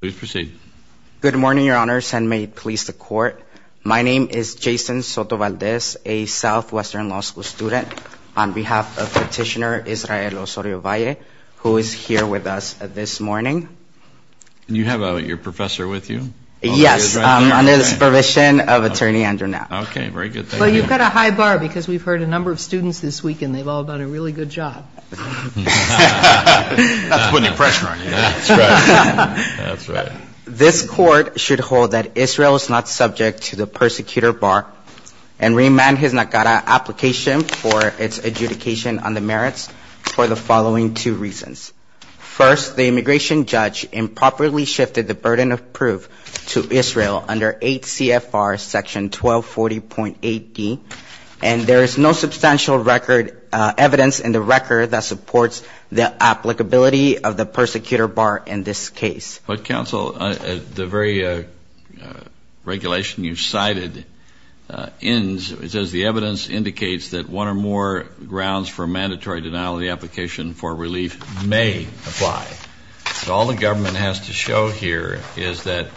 Please proceed. Good morning, Your Honors, and may it please the Court. My name is Jason Soto-Valdez, a Southwestern Law School student, on behalf of Petitioner Israel Osorio Valle, who is here with us this morning. Do you have your professor with you? Yes, under the supervision of Attorney Andrew Knapp. Okay, very good. Thank you. Well, you've got a high bar because we've heard a number of students this week, and they've all done a really good job. That's putting pressure on you. That's right. This Court should hold that Israel is not subject to the persecutor bar and remand his Nakara application for its adjudication on the merits for the following two reasons. First, the immigration judge improperly shifted the burden of proof to Israel under 8 CFR Section 1240.8d, and there is no substantial record evidence in the record that supports the applicability of the persecutor bar in this case. But, counsel, the very regulation you cited ends, it says, the evidence indicates that one or more grounds for mandatory denial of the application for relief may apply. All the government has to show here is that,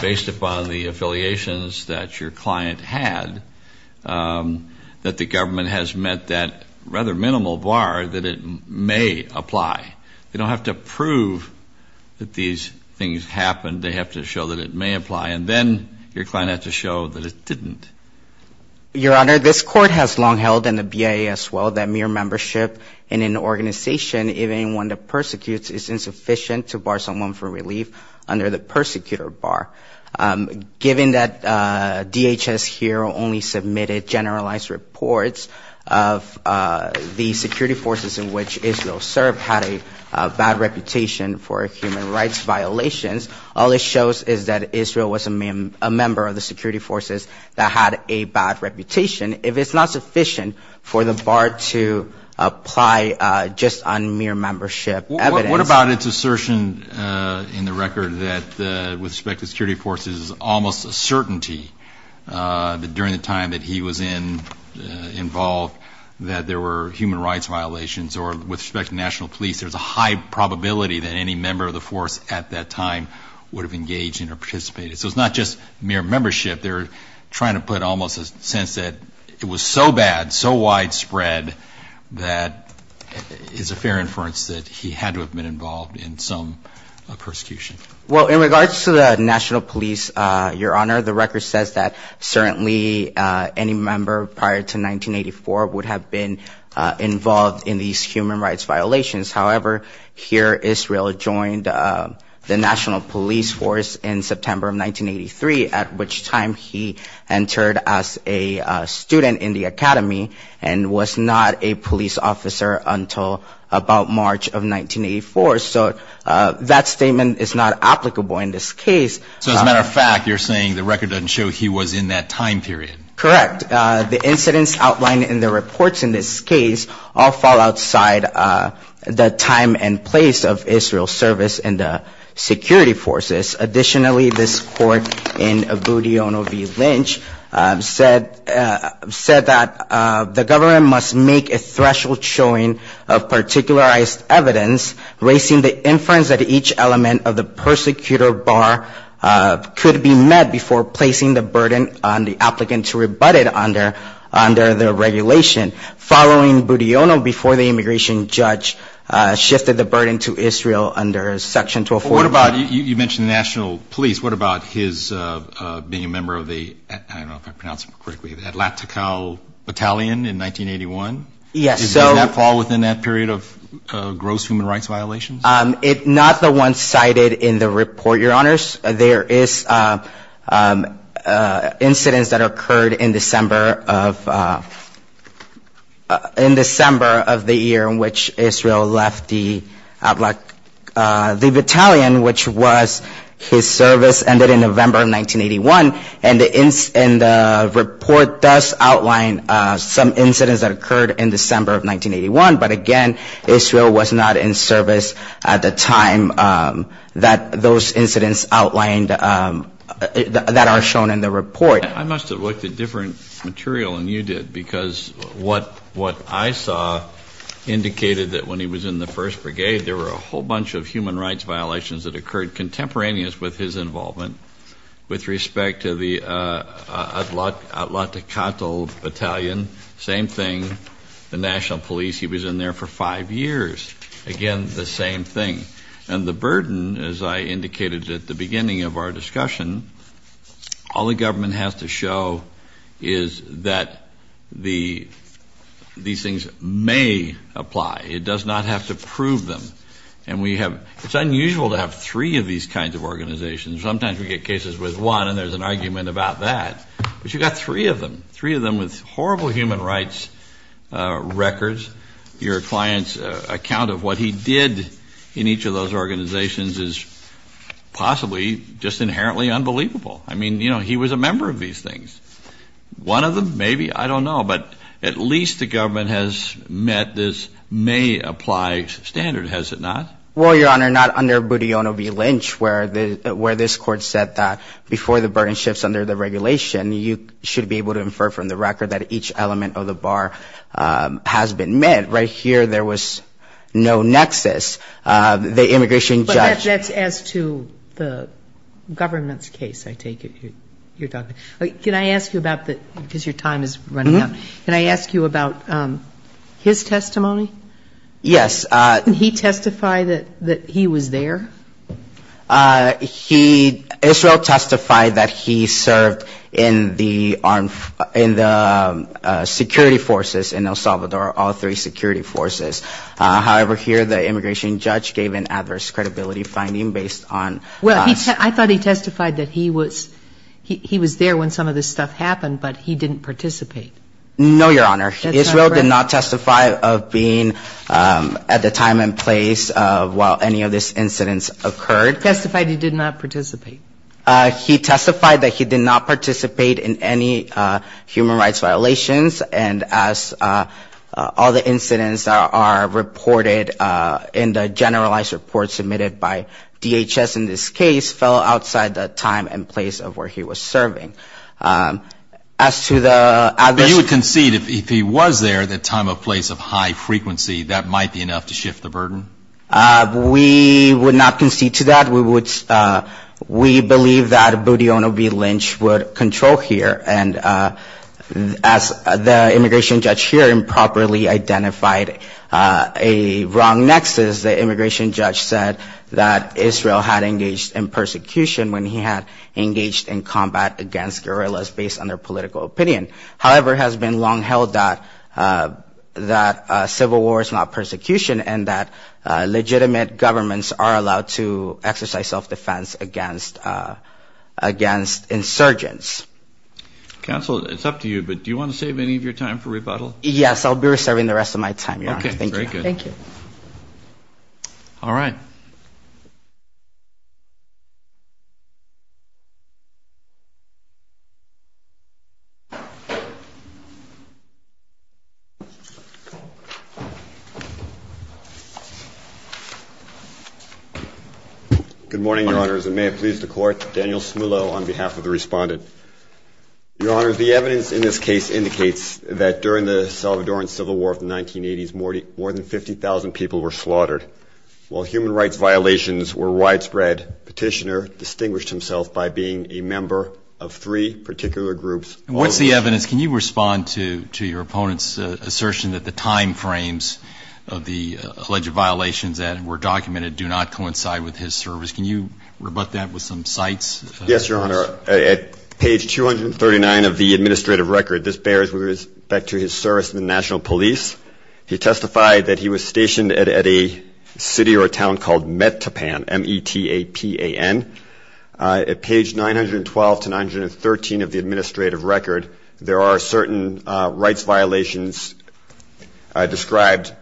based upon the affiliations that your client had, that the government has met that rather minimal bar that it may apply. They don't have to prove that these things happened. They have to show that it may apply, and then your client has to show that it didn't. Your Honor, this Court has long held in the BIA as well that mere membership in an organization, even one that persecutes, is insufficient to bar someone for relief under the persecutor bar. Given that DHS here only submitted generalized reports of the security forces in which Israel served, had a bad reputation for human rights violations, all it shows is that Israel was a member of the security forces that had a bad reputation. If it's not sufficient for the bar to apply just on mere membership evidence. What about its assertion in the record that with respect to security forces, almost a certainty that during the time that he was in, involved, that there were human rights violations, or with respect to national police, there's a high probability that any member of the force at that time would have engaged in or participated. So it's not just mere membership, they're trying to put almost a sense that it was so bad, so widespread, that it's a fair inference that he had to have been involved in some persecution. Well, in regards to the national police, Your Honor, the record says that certainly any member prior to 1984 would have been involved in these human rights violations. However, here Israel joined the national police force in September of 1983, at which time he entered as a student in the academy and was not a police officer until about March of 1984. So that statement is not applicable in this case. So as a matter of fact, you're saying the record doesn't show he was in that time period. Correct. In fact, the incidents outlined in the reports in this case all fall outside the time and place of Israel's service in the security forces. Additionally, this court in Abudiono v. Lynch said that the government must make a threshold showing of particularized evidence, raising the inference that each element of the persecutor bar could be met before placing the burden on the applicant to rebut it under the regulation. Following Abudiono, before the immigration judge shifted the burden to Israel under Section 1240. But what about, you mentioned the national police, what about his being a member of the, I don't know if I pronounced it correctly, the Atlantical Battalion in 1981? Yes. Does that fall within that period of gross human rights violations? It's not the one cited in the report, Your Honors. There is incidents that occurred in December of the year in which Israel left the battalion, which was his service ended in November of 1981. And the report does outline some incidents that occurred in December of 1981. But again, Israel was not in service at the time that those incidents outlined that are shown in the report. I must have looked at different material than you did, because what I saw indicated that when he was in the First Brigade, there were a whole bunch of human rights violations that occurred contemporaneous with his involvement with respect to the Atlantical Battalion, same thing. The national police, he was in there for five years. Again, the same thing. And the burden, as I indicated at the beginning of our discussion, all the government has to show is that these things may apply. It does not have to prove them. And we have, it's unusual to have three of these kinds of organizations. Sometimes we get cases with one, and there's an argument about that. But you've got three of them, three of them with horrible human rights records. Your client's account of what he did in each of those organizations is possibly just inherently unbelievable. I mean, you know, he was a member of these things. One of them, maybe, I don't know. But at least the government has met this may apply standard, has it not? Well, Your Honor, not under Budiono v. Lynch, where this Court said that before the burden shifts under the regulation, you should be able to infer from the record that each element of the bar has been met. Right here there was no nexus. The immigration judge ---- But that's as to the government's case, I take it, you're talking. Can I ask you about the, because your time is running out, can I ask you about his testimony? Yes. Did he testify that he was there? He, Israel testified that he served in the security forces in El Salvador, all three security forces. However, here the immigration judge gave an adverse credibility finding based on ---- Well, I thought he testified that he was there when some of this stuff happened, but he didn't participate. No, Your Honor. Israel did not testify of being at the time and place of while any of this incidents occurred. Testified he did not participate. He testified that he did not participate in any human rights violations, and as all the incidents that are reported in the generalized report submitted by DHS in this case fell outside the time and place of where he was serving. As to the adverse ---- But you would concede if he was there at the time and place of high frequency, that might be enough to shift the burden? We would not concede to that. We would, we believe that Budyonny B. Lynch would control here. And as the immigration judge here improperly identified a wrong nexus, the immigration judge said that Israel had engaged in persecution when he had engaged in combat against Israel. And the immigration judge said that Israel had engaged in self-defense guerrillas based on their political opinion. However, it has been long held that civil war is not persecution and that legitimate governments are allowed to exercise self-defense against insurgents. Counsel, it's up to you, but do you want to save any of your time for rebuttal? Yes, I'll be reserving the rest of my time, Your Honor. Thank you. All right. Good morning, Your Honors. And may it please the Court, Daniel Smullo on behalf of the respondent. Your Honors, the evidence in this case indicates that during the Salvadoran Civil War of the 1980s, more than 50,000 people were slaughtered. While human rights violations were widespread, Petitioner distinguished himself by being a member of three particular groups. And what's the evidence? Can you respond to your opponent's assertion that the time frames of the alleged violations that were documented do not coincide with his service? Can you rebut that with some cites? Yes, Your Honor. At page 239 of the administrative record, this bears with respect to his service in the National Police. He testified that he was stationed at a city or town called Metapan, M-E-T-A-P-A-N. At page 912 to 913 of the administrative record, there are certain rights violations described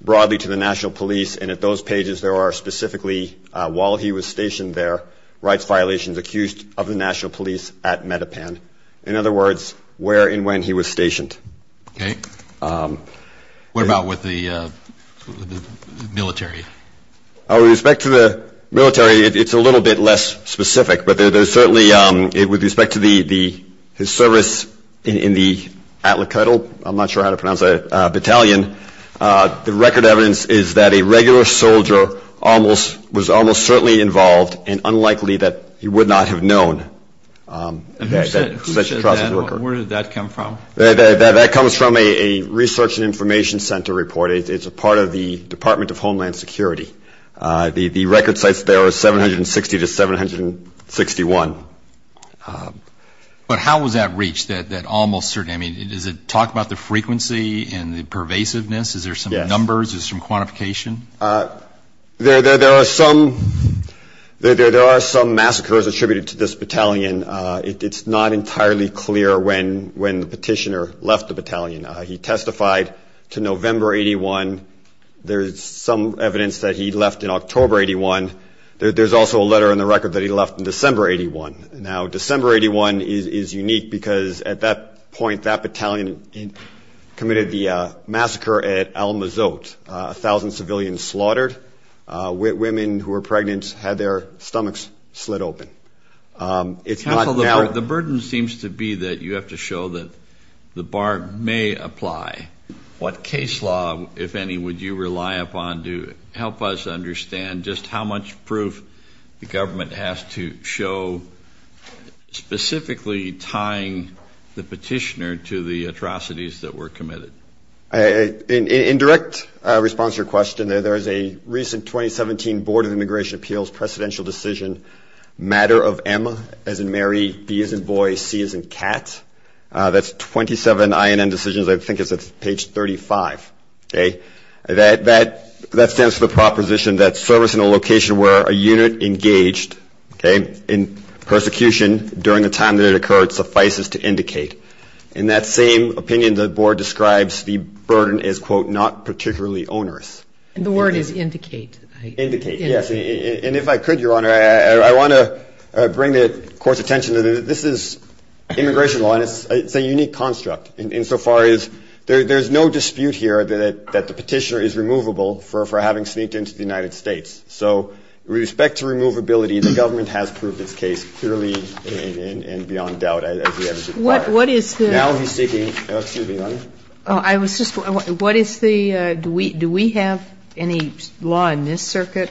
broadly to the National Police. And at those pages, there are specifically, while he was stationed there, rights violations accused of the National Police. In other words, where and when he was stationed. Okay. What about with the military? With respect to the military, it's a little bit less specific. But there's certainly, with respect to his service in the atlacuddle, I'm not sure how to pronounce that, battalion, the record evidence is that a regular soldier was almost certainly involved and unlikely that he would not have known. And who said that? Where did that come from? That comes from a research and information center report. It's a part of the Department of Homeland Security. The record cites there are 760 to 761. But how was that reached, that almost certainly? I mean, does it talk about the frequency and the pervasiveness? Is there some numbers? Is there some quantification? There are some massacres attributed to this battalion. It's not entirely clear when the petitioner left the battalion. He testified to November 81. There's some evidence that he left in October 81. There's also a letter in the record that he left in December 81. Now, December 81 is unique because at that point, that battalion committed the massacre at Al-Mazot. A thousand civilians slaughtered. Women who were pregnant had their stomachs slit open. Counsel, the burden seems to be that you have to show that the BARG may apply. What case law, if any, would you rely upon to help us understand just how much proof the government has to show specifically tying the petitioner to the atrocities that were committed? In direct response to your question, there is a recent 2017 Board of Immigration Appeals presidential decision, matter of M as in Mary, B as in boy, C as in cat. That's 27 INN decisions. I think it's at page 35. That stands for the proposition that service in a location where a unit engaged in persecution during the time that it occurred suffices to indicate. In that same opinion, the board describes the burden as, quote, not particularly onerous. And the word is indicate. Indicate, yes. And if I could, Your Honor, I want to bring the Court's attention to this. This is immigration law, and it's a unique construct insofar as there's no dispute here that the petitioner is removable for having sneaked into the United States. So with respect to removability, the government has proved its case clearly and beyond doubt. Now he's seeking, excuse me, Your Honor. Do we have any law in this circuit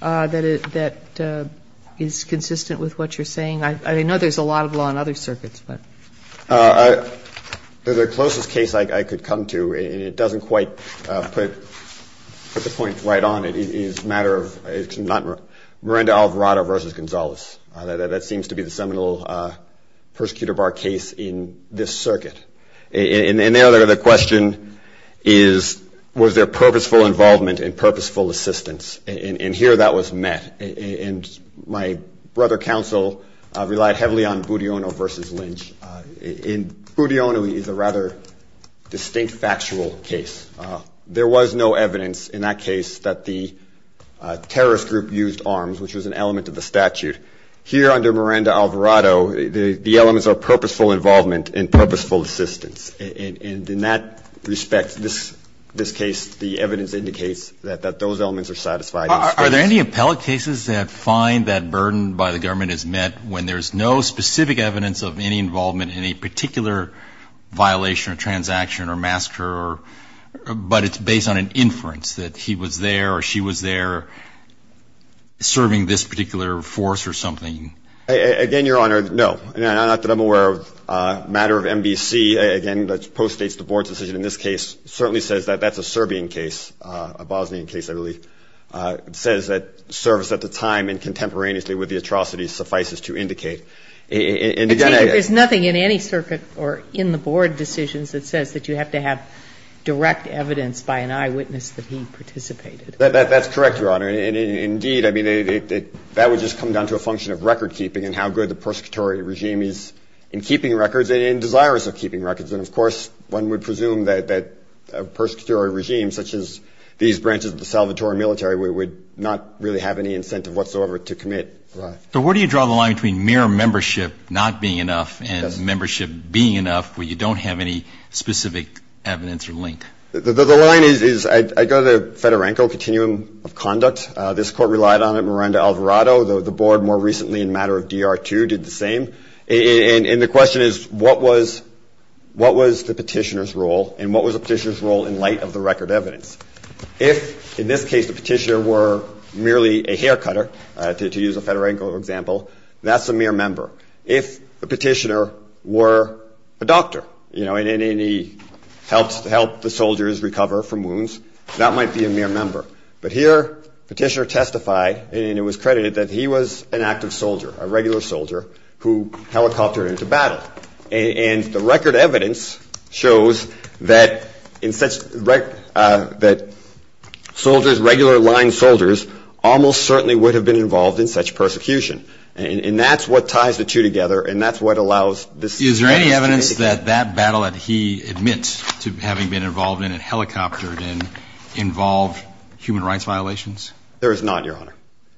that is consistent with what you're saying? I know there's a lot of law in other circuits. The closest case I could come to, and it doesn't quite put the point right on it, is a matter of Miranda Alvarado v. Gonzalez. That seems to be the seminal persecutor bar case in this circuit. And the other question is, was there purposeful involvement and purposeful assistance? And here that was met. My brother counsel relied heavily on Budiono v. Lynch. Budiono is a rather distinct factual case. There was no evidence in that case that the terrorist group used arms, which was an element of the statute. Here under Miranda Alvarado, the elements are purposeful involvement and purposeful assistance. And in that respect, this case, the evidence indicates that those elements are satisfied in this case. Are there any appellate cases that find that burden by the government is met when there's no specific evidence of any involvement in a particular violation or transaction or massacre, but it's based on an inference that he was there or she was there serving this particular force or something? Again, Your Honor, no. Not that I'm aware of. Matter of MBC, again, that postdates the Board's decision in this case, certainly says that that's a Serbian case, a Bosnian case, I believe. It says that service at the time and contemporaneously with the atrocities suffices to indicate. There's nothing in any circuit or in the Board decisions that says that you have to have direct evidence by an eyewitness that he participated. That's correct, Your Honor. And indeed, I mean, that would just come down to a function of recordkeeping and how good the persecutory regime is in keeping records and in desirous of keeping records. And, of course, one would presume that persecutory regimes such as these branches of the Salvatore military would not really have any incentive whatsoever to commit crimes. So where do you draw the line between mere membership not being enough and membership being enough where you don't have any specific evidence or link? The line is, I go to Fedorenko, continuum of conduct. This Court relied on it. Miranda Alvarado, the Board more recently in a matter of DR2, did the same. And the question is, what was the petitioner's role and what was the petitioner's role in light of the record evidence? If, in this case, the petitioner were merely a haircutter, to use a Fedorenko example, that's a mere member. If the petitioner were a doctor and he helped the soldiers recover from wounds, that might be a mere member. But here, petitioner testified, and it was credited, that he was an active soldier, a regular soldier, who helicoptered into battle. And the record evidence shows that soldiers, regular line soldiers, almost certainly would have been involved in such persecution. And that's what ties the two together and that's what allows this case to be indicated. Is there any evidence that that battle that he admits to having been involved in and helicoptered involved human rights violations? There is not, Your Honor.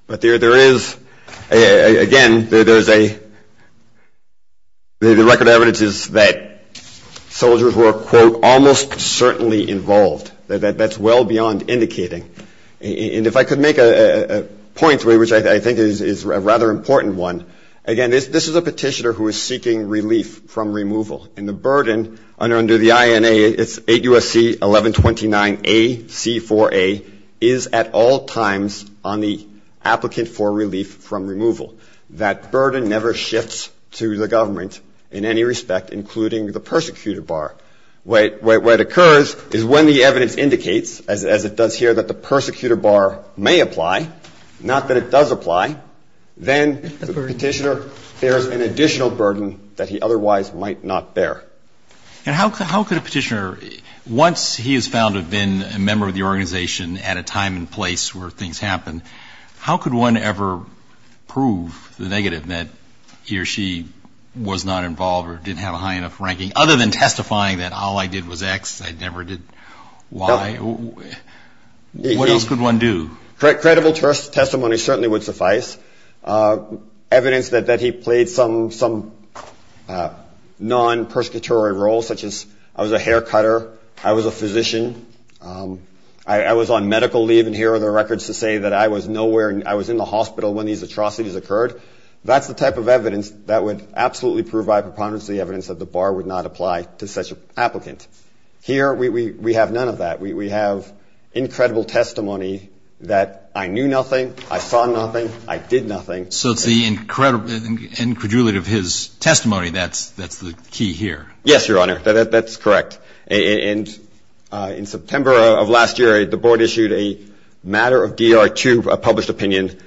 But there is, again, there's a, the record evidence is that soldiers were, quote, almost certainly involved. That's well beyond indicating. And if I could make a point, which I think is a rather important one, again, this is a petitioner who is seeking relief from removal. And the burden under the INA, it's 8 U.S.C. 1129A C4A, is at all times on the applicant for relief from removal. That burden never shifts to the government in any respect, including the persecutor bar. Where it occurs is when the evidence indicates, as it does here, that the persecutor bar may apply, not that it does apply, then the petitioner bears an additional burden that he otherwise might not bear. And how could a petitioner, once he is found to have been a member of the organization at a time and place where things happen, how could one ever prove the negative that he or she was not involved or didn't have a sign of ranking, other than testifying that all I did was X, I never did Y? What else could one do? Credible testimony certainly would suffice. Evidence that he played some non-persecutory role, such as I was a hair cutter, I was a physician, I was on medical leave, and here are the records to say that I was nowhere, I was in the hospital when these atrocities occurred. That's the type of evidence that would absolutely provide preponderance to the evidence that the bar would not apply to such an applicant. Here, we have none of that. We have incredible testimony that I knew nothing, I saw nothing, I did nothing. So it's the incredulity of his testimony that's the key here. Yes, Your Honor, that's correct. And in September of last year, the Board issued a matter of DR2, a published opinion,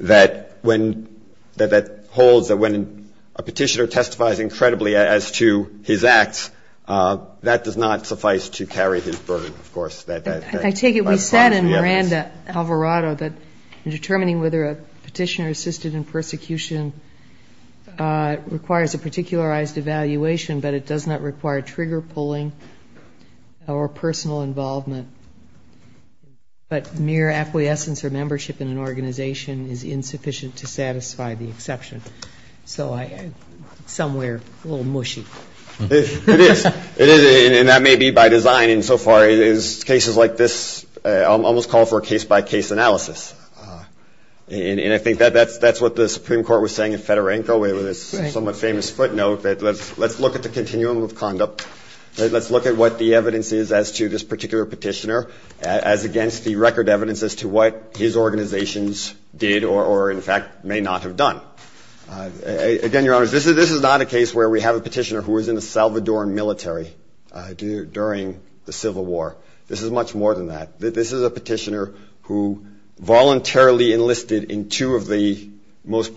that holds that when a petitioner testifies incredibly as to his acts, that does not suffice to carry his burden, of course. I take it we said in Miranda-Alvarado that determining whether a petitioner assisted in persecution requires a particularized evaluation, but it does not require trigger-pulling or personal involvement, but mere acquiescence or membership in an organization is insufficient to satisfy the exception. So somewhere a little mushy. It is. And that may be by design. And so far, cases like this almost call for a case-by-case analysis. And I think that's what the Supreme Court was saying in Fedorenko with its somewhat famous footnote that let's look at the continuum of conduct. Let's look at what the evidence is as to this particular petitioner as against the record evidence as to what his organizations did or, in fact, may not have done. Again, Your Honors, this is not a case where we have a petitioner who was in the Salvadoran military during the Civil War. This is much more than that. This is a petitioner who voluntarily enlisted in two of the most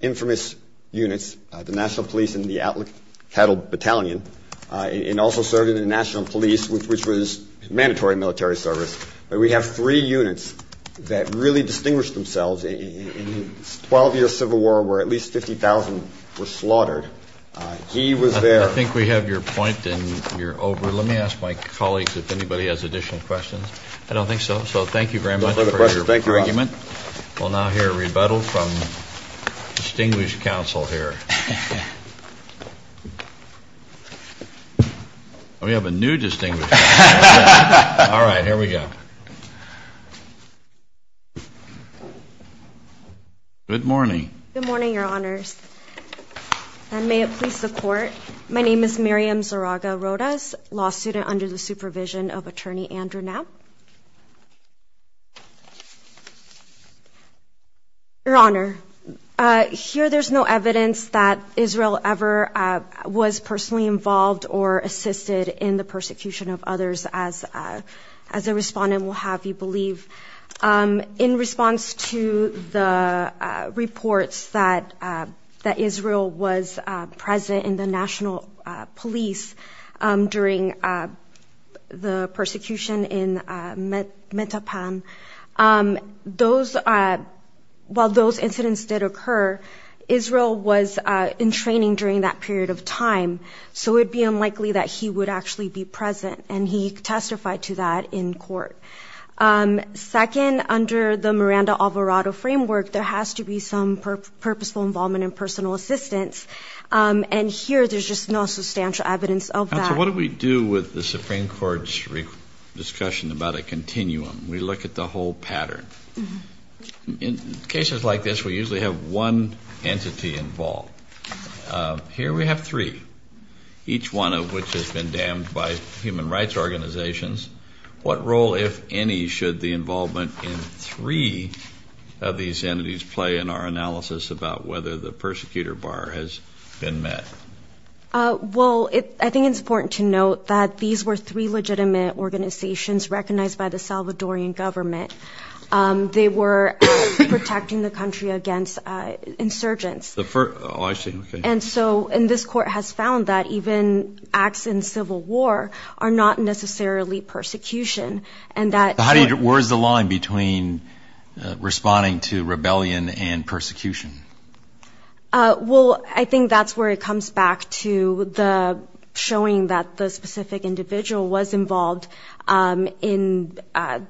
infamous units, the National Police and the Atlantic Cattle Battalion, and also served in the National Police, which was mandatory military service. But we have three units that really distinguished themselves in 12 years of Civil War where at least 50,000 were slaughtered. He was there. Let me ask my colleagues if anybody has additional questions. I don't think so. So thank you very much for your argument. We'll now hear a rebuttal from distinguished counsel here. We have a new distinguished counsel. All right, here we go. Good morning. Good morning, Your Honors, and may it please the Court. My name is Miriam Zaraga Rodas, law student under the supervision of Attorney Andrew Knapp. Your Honor, here there's no evidence that Israel ever was personally involved or assisted in the persecution of others, as a respondent will have you believe. In response to the reports that Israel was present in the National Police during the persecution in Metapan, while those incidents did occur, Israel was in training during that period of time, so it would be unlikely that he would actually be present, and he testified to that in court. Second, under the Miranda-Alvarado framework, there has to be some purposeful involvement in personal assistance, and here there's just no substantial evidence of that. Counsel, what do we do with the Supreme Court's discussion about a continuum? We look at the whole pattern. In cases like this, we usually have one entity involved. Here we have three, each one of which has been damned by human rights organizations. What role, if any, should the involvement in three of these entities play in our analysis about whether the persecutor bar has been met? Well, I think it's important to note that these were three legitimate organizations recognized by the Salvadorian government. They were protecting the country against insurgents. Oh, I see. This court has found that even acts in civil war are not necessarily persecution. Where's the line between responding to rebellion and persecution? Well, I think that's where it comes back to showing that the specific individual was involved at a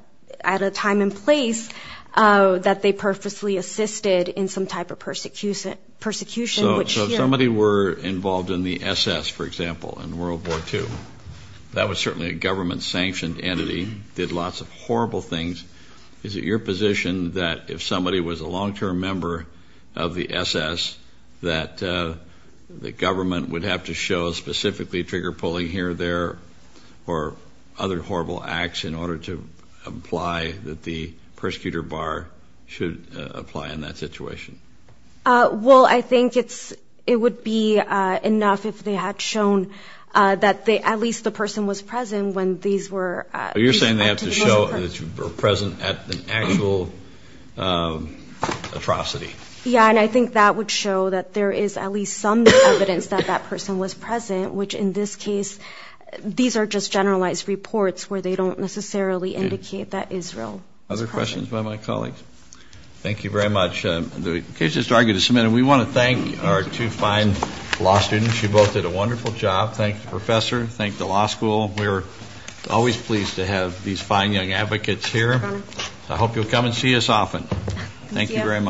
time and place that they purposely assisted in some type of persecution. So if somebody were involved in the SS, for example, in World War II, that was certainly a government-sanctioned entity, did lots of horrible things. Is it your position that if somebody was a long-term member of the SS that the government would have to show specifically trigger-pulling here or there or other horrible acts in order to make sure that the persecutor bar should apply in that situation? Well, I think it would be enough if they had shown that at least the person was present when these were You're saying they have to show that you were present at an actual atrocity. Yeah, and I think that would show that there is at least some evidence that that person was present, which in this case these are just generalized reports where they don't necessarily indicate that Israel was present. Other questions by my colleagues? Thank you very much. We want to thank our two fine law students. You both did a wonderful job. Thank the professor, thank the law school. We're always pleased to have these fine young advocates here. I hope you'll come and see us often. Thank you very much.